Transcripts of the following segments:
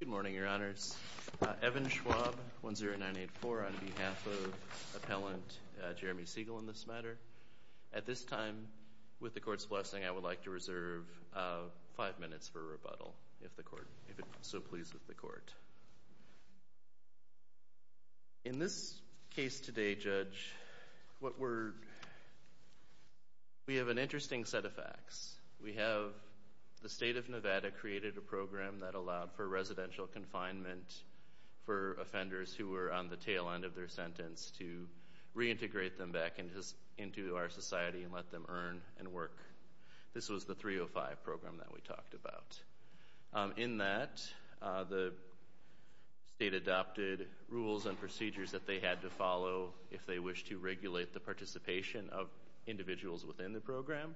Good morning, Your Honors. Evan Schwab, 10984, on behalf of Appellant Jeremy Siegel in this matter. At this time, with the Court's blessing, I would like to reserve five minutes for rebuttal, if the Court, if it's so pleased with the Court. In this case today, Judge, what we're, we have an interesting set of facts. We have the State of Nevada created a program that allowed for residential confinement for offenders who were on the tail end of their sentence to reintegrate them back into our society and let them earn and work. This was the 305 program that we talked about. In that, the state adopted rules and procedures that they had to follow if they wish to regulate the participation of individuals within the program,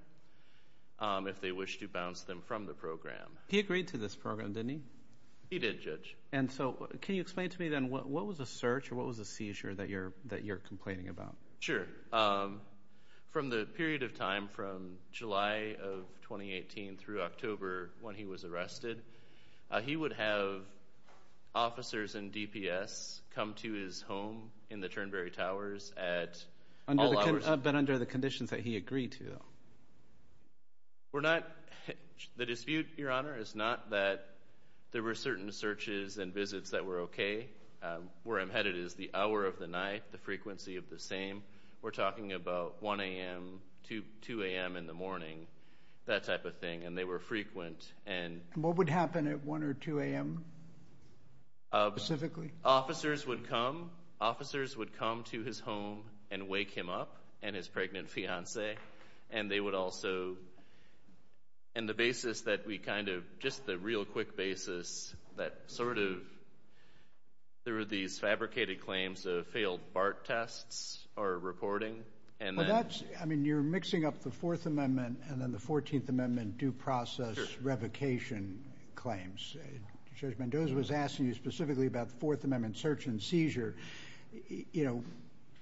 if they wish to bounce them from the program. He agreed to this program, didn't he? He did, Judge. And so, can you explain to me, then, what was the search or what was the seizure that you're, that you're complaining about? Sure. From the period of time from July of 2018 through October, when he was arrested, he would have officers and DPS come to his home in the Turnberry Towers at all hours. But under the conditions that he agreed to, though? We're not, the dispute, Your Honor, is not that there were certain searches and visits that were okay. Where I'm headed is the hour of the night, the frequency of the same. We're talking about 1 a.m. to 2 a.m. in the morning, that type of thing, and they were frequent. And what would happen at 1 or 2 a.m. specifically? Officers would come. Officers would come to his home and wake him up and his pregnant fiancee, and they would also, and the basis that we kind of, just the real quick basis, that sort of, there were these fabricated claims of failed BART tests or reporting. And that's, I mean, you're mixing up the Fourth Amendment and then the Fourteenth Amendment due process revocation claims. Judge Mendoza was specifically about the Fourth Amendment search and seizure. You know,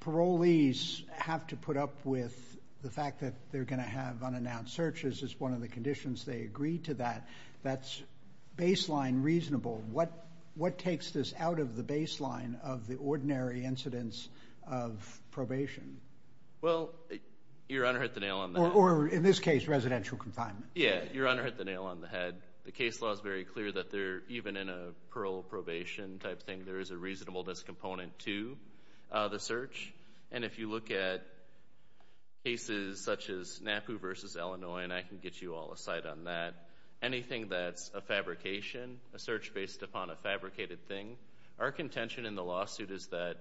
parolees have to put up with the fact that they're going to have unannounced searches is one of the conditions. They agreed to that. That's baseline reasonable. What what takes this out of the baseline of the ordinary incidents of probation? Well, Your Honor, at the nail on the, or in this case, residential confinement. Yeah, Your Honor, at the nail on the head, the case law is very clear that they're, even in a parole probation type thing, there is a reasonableness component to the search. And if you look at cases such as NAPU v. Illinois, and I can get you all a side on that, anything that's a fabrication, a search based upon a fabricated thing, our contention in the lawsuit is that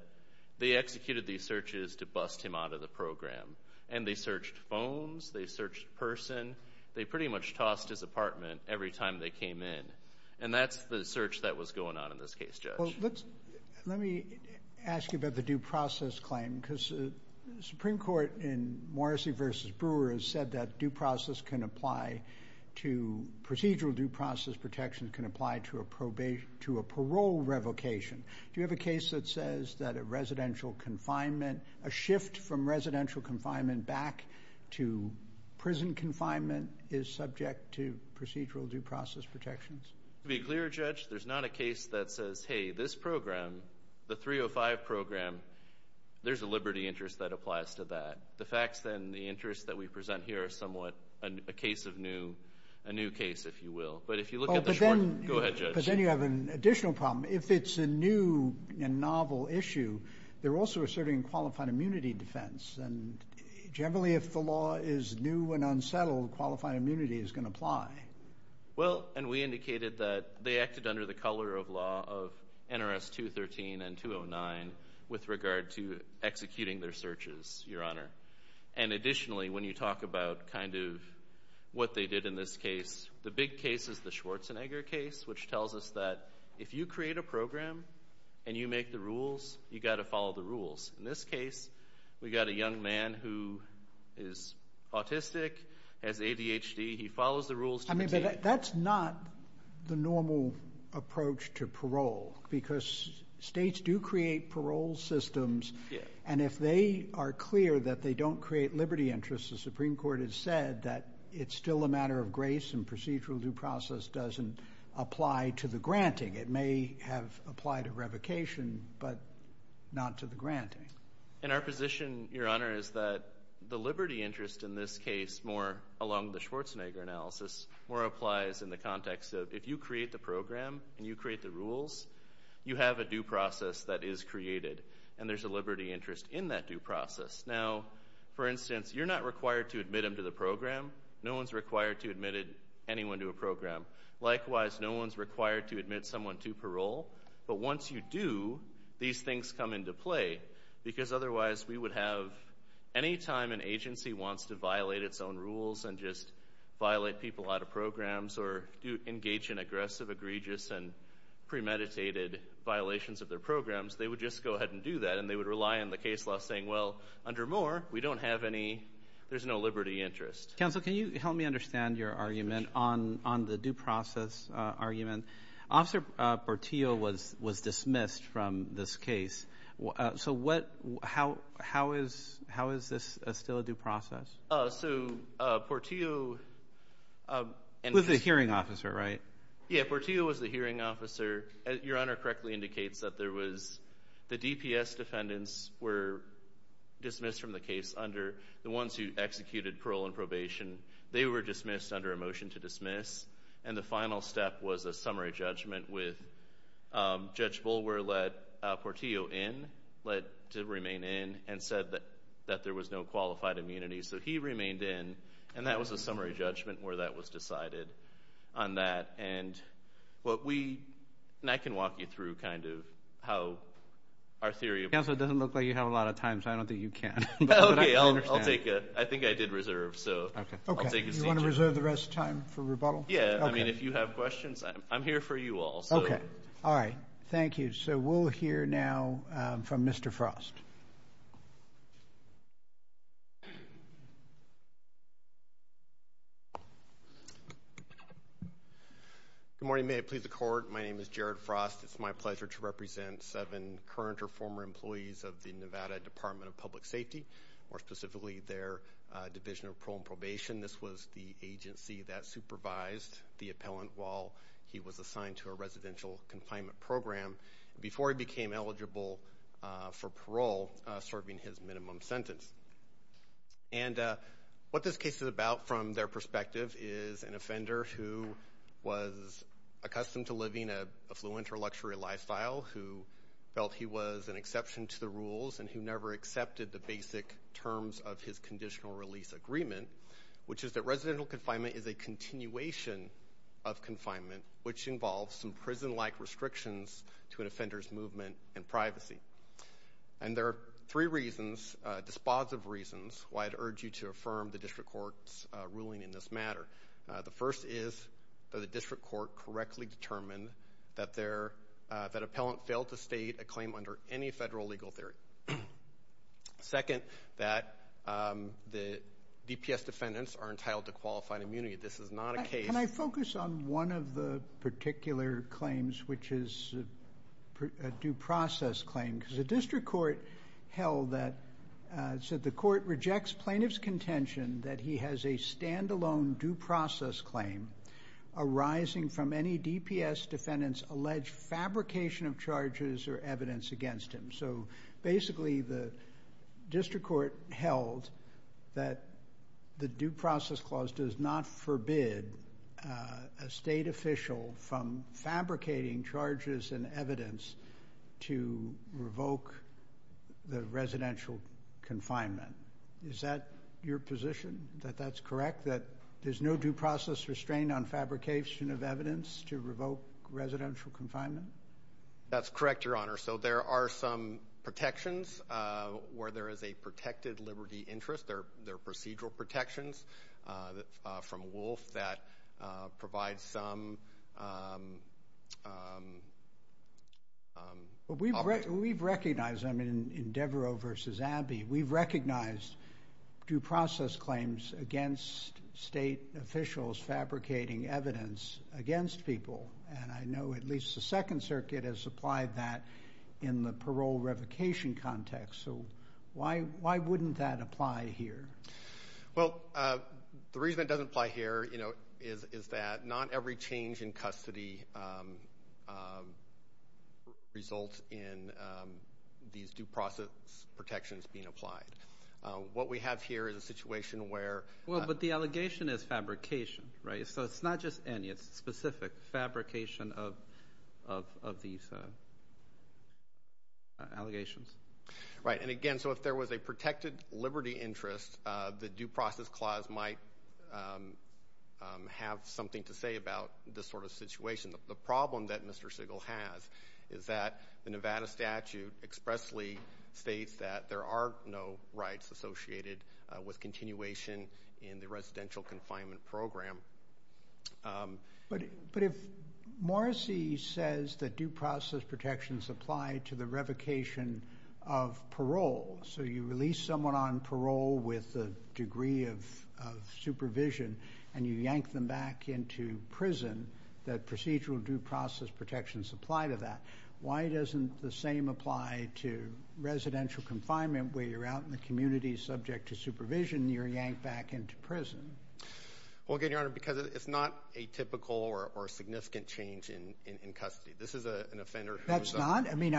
they executed these searches to bust him out of the program. And they searched phones. They searched person. They pretty much tossed his apartment every time they came in. And that's the search that was going on in this case, Judge. Well, let's, let me ask you about the due process claim. Because the Supreme Court in Morrissey v. Brewer has said that due process can apply to, procedural due process protection can apply to a probation, to a parole revocation. Do you have a case that says that a residential confinement, a shift from residential confinement back to prison confinement is subject to procedural due process protections? To be clear, Judge, there's not a case that says, hey, this program, the 305 program, there's a liberty interest that applies to that. The facts then, the interests that we present here are somewhat a case of new, a new case, if you will. But if you look at the short... Oh, but then... Go ahead, Judge. But then you have an additional problem. If it's a new and novel issue, they're also asserting qualified immunity defense. And generally, if the law is new and settled, qualified immunity is gonna apply. Well, and we indicated that they acted under the color of law of NRS 213 and 209 with regard to executing their searches, Your Honor. And additionally, when you talk about kind of what they did in this case, the big case is the Schwarzenegger case, which tells us that if you create a program and you make the rules, you gotta follow the rules. In this case, we got a young man who is autistic, has ADHD, he follows the rules... I mean, but that's not the normal approach to parole, because states do create parole systems, and if they are clear that they don't create liberty interests, the Supreme Court has said that it's still a matter of grace and procedural due process doesn't apply to the granting. It may have applied to revocation, but not to the granting. And our position, Your Honor, is that the liberty interest in this case, more along the Schwarzenegger analysis, more applies in the context of, if you create the program and you create the rules, you have a due process that is created, and there's a liberty interest in that due process. Now, for instance, you're not required to admit him to the program. No one's required to admit anyone to a program. Likewise, no one's required to admit someone to parole. But once you do, these things come into play, because otherwise we would have... Anytime an agency wants to violate its own rules and just violate people out of programs, or do engage in aggressive, egregious, and premeditated violations of their programs, they would just go ahead and do that, and they would rely on the case law saying, well, under Moore, we don't have any... There's no liberty interest. Counsel, can you help me understand your argument on the due process argument? Officer Portillo was dismissed from this case. So what... How is this still a due process? So Portillo... He was the hearing officer, right? Yeah, Portillo was the hearing officer. Your Honor correctly indicates that there was... The DPS defendants were dismissed from the case under the ones who executed parole and probation. They were dismissed under a motion to dismiss, and the final step was a summary judgment with... Judge Bulwer let Portillo in, let him remain in, and said that there was no qualified immunity. So he remained in, and that was a summary judgment where that was decided on that. And what we... And I can walk you through kind of how our theory of... Counsel, it doesn't look like you have a lot of time, so I don't think you can. Okay, I'll take it. I think I did reserve, so I'll take a seat here. Okay. You want to reserve the rest of the time for rebuttal? Yeah. Okay. I mean, if you have questions, I'm here for you all, so... Okay. All right. Thank you. So we'll hear now from Mr. Frost. Good morning. May it please the Court. My name is Jared Frost. It's my pleasure to represent seven current or former employees of the Nevada Department of Public Safety, more specifically their Division of Parole and Probation. This was the agency that supervised the appellant while he was assigned to a residential confinement program, before he became eligible for parole, serving his minimum sentence. And what this case is about from their perspective is an offender who was accustomed to living an affluent or luxury lifestyle, who felt he was an exception to the rules, and who never accepted the basic terms of his conditional release agreement, which is that residential confinement is a continuation of confinement, which involves some prison-like restrictions to an offender's movement and privacy. And there are three reasons, dispositive reasons, why I'd urge you to affirm the District Court's ruling in this matter. The first is that the District Court correctly determined that appellant failed to state a claim under any federal legal theory. Second, that the DPS defendants are entitled to qualified immunity. This is not a case... Can I focus on one of the particular claims, which is a due process claim? Because the District Court held that... So the Court rejects plaintiff's contention that he has a standalone due process claim arising from any DPS defendants' alleged fabrication of charges or evidence against him. So basically, the District Court held that the due process clause does not forbid a state official from fabricating charges and evidence to revoke the residential confinement. Is that your position, that that's correct, that there's no due process restraint on fabrication of evidence to revoke residential confinement? That's correct, Your Honor. So there are some protections where there is a protected liberty interest. There are procedural protections from Wolf that provide some... We've recognized, I mean, in Devereaux v. Abbey, we've recognized due process claims against state officials fabricating evidence against people. And I know at least the Second Circuit has applied that in the parole revocation context. So why wouldn't that apply here? Well, the reason it doesn't apply here is that not every change in custody results in these due process protections being applied. What we have here is a situation where... Well, but the allegation is fabrication, right? So it's not just any, it's specific fabrication of these allegations. Right. And again, so if there was a protected liberty interest, the due process clause might have something to say about this sort of situation. The problem that Mr. Siegel has is that the Nevada statute expressly states that there are no rights associated with continuation in the residential confinement program. But if Morrisey says that due process protections apply to the revocation of parole, so you release someone on parole with a degree of supervision and you yank them back into prison, that procedural due process protections apply to that. Why doesn't the same apply to residential confinement where you're out in the community, subject to supervision, you're yanked back into prison? Well, again, Your Honor, because it's not atypical or significant change in custody. This is an offender who's... That's not? I mean,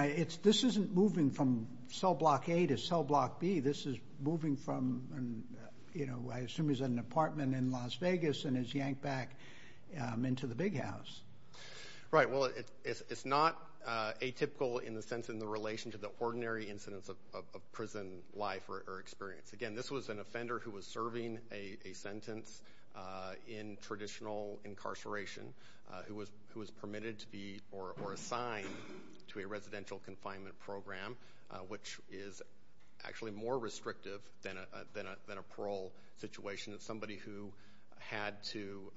this isn't moving from cell block A to cell block B. This is moving from, I assume he's in an apartment in Las Vegas and is yanked back into the big house. Right. Well, it's not atypical in the sense, in the relation to the ordinary incidence of prison life or experience. Again, this was an offender who was serving a sentence in traditional incarceration, who was permitted to be or assigned to a residential confinement program, which is actually more restrictive than a parole situation. It's somebody who had to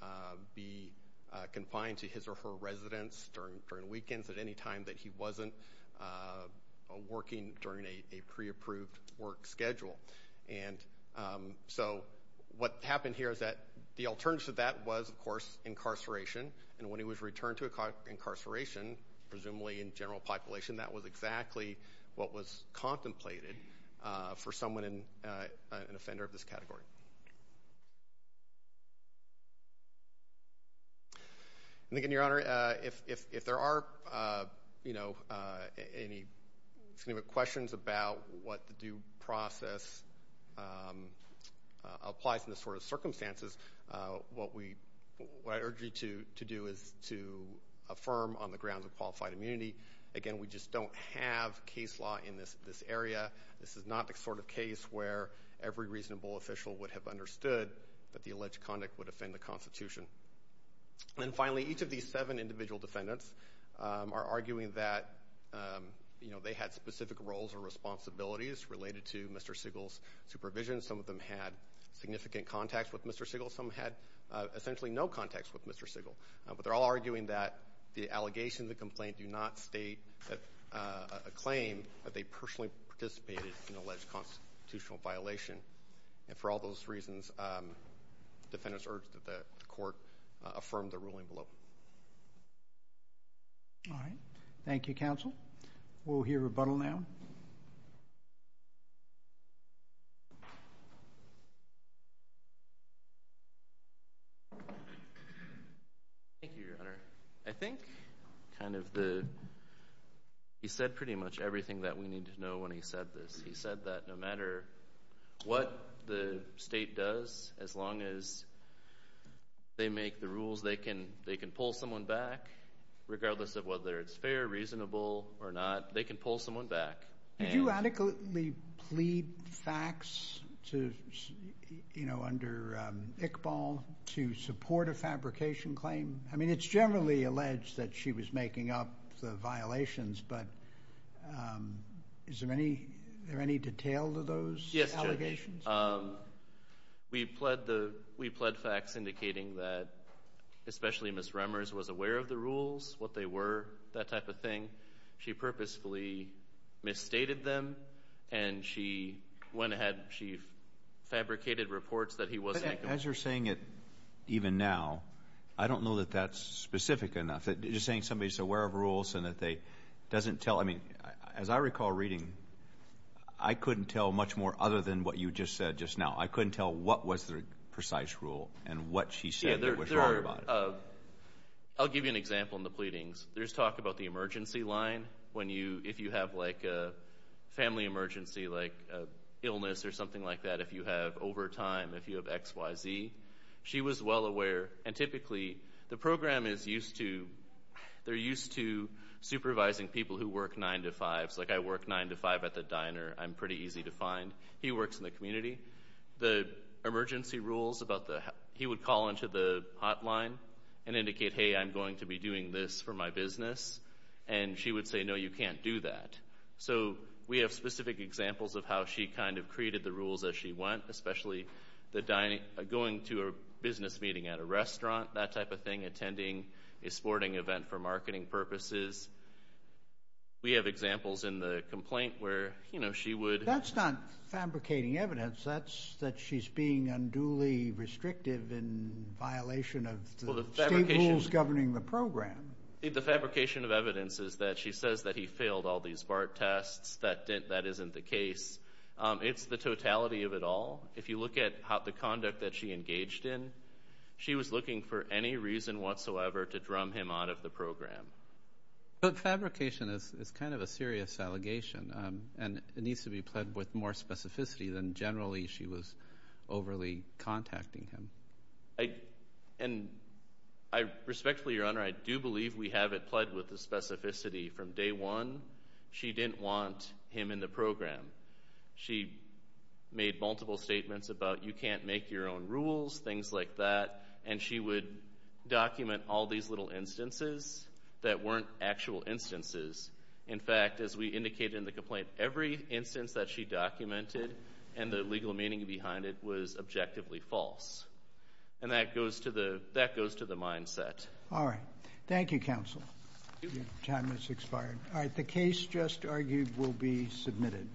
be confined to his or her residence during weekends at any time that he wasn't working during a pre-approved work schedule. And so what happened here is that the alternative to that was, of course, incarceration. And when he was returned to incarceration, presumably in general population, that was exactly what was contemplated for someone, an offender of this category. And again, Your Honor, if there are any questions about what the due process applies in this sort of circumstances, what I urge you to do is to affirm on the grounds of qualified immunity. Again, we just don't have case law in this area. This is not the sort of case where every reasonable official would have understood that the alleged conduct would offend the Constitution. And finally, each of these seven individual defendants are arguing that they had specific roles or responsibilities related to Mr. Siegel's supervision. Some of them had significant contacts with Mr. Siegel. Some had essentially no contacts with Mr. Siegel. But they're all arguing that the allegation, the complaint, do not state a claim that they personally participated in an alleged constitutional violation. And for all those reasons, the defendants urge that the court affirm the ruling below. All right. Thank you, counsel. We'll hear rebuttal now. Thank you, Your Honor. I think kind of the... He said pretty much everything that we need to know when he said this. He said that no matter what the state does, as long as they make the rules, they can pull someone back, regardless of whether it's fair, reasonable or not. They can pull someone back. Did you adequately plead facts under Iqbal to support a fabrication claim? I mean, it's generally alleged that she was making up the violations, but is there any detail to those allegations? Yes, Your Honor. We pled facts indicating that especially Ms. Remmers was aware of the rules, what they were, that type of thing. She purposefully misstated them, and she went ahead, she fabricated reports that he wasn't... As you're saying it even now, I don't know that that's specific enough. You're saying somebody's aware of rules and that they doesn't tell... I mean, as I recall reading, I couldn't tell much more other than what you just said just now. I couldn't tell what was the precise rule and what she said that was wrong about it. Yeah, there are... I'll give you an example in the pleadings. There's talk about the emergency line when you... If you have like a family emergency, like a illness or something like that, if you have overtime, if you have X, Y, Z. She was well aware, and typically the program is used to... They're used to supervising people who work nine to fives, like I work nine to five at the diner. I'm pretty easy to find. He works in the community. The emergency rules about the... He would call into the hotline and indicate, hey, I'm going to be doing this for my business. And she would say, no, you can't do that. So we have specific examples of how she kind of created the rules as she went, especially going to a business meeting at a restaurant, that type of thing, attending a sporting event for marketing purposes. We have examples in the complaint where she would... That's not fabricating evidence. That's that she's being unduly restrictive in violation of the state rules governing the program. The fabrication of evidence is that she says that he failed all these BART tests, that that isn't the case. It's the totality of it all. If you look at the conduct that she engaged in, she was looking for any reason whatsoever to drum him out of the program. But fabrication is kind of a serious allegation, and it needs to be pledged with more specificity than generally she was overly contacting him. And I respectfully, Your Honor, I do believe we have it pledged with the specificity from day one, she didn't want him in the program. She made multiple statements about, you can't make your own rules, things like that. And she would document all these little instances that weren't actual instances. In fact, as we indicated in the complaint, every instance that she documented and the legal meaning behind it was objectively false. And that goes to the mindset. All right. Thank you, counsel. Your time has expired. All right. The case just argued will be submitted.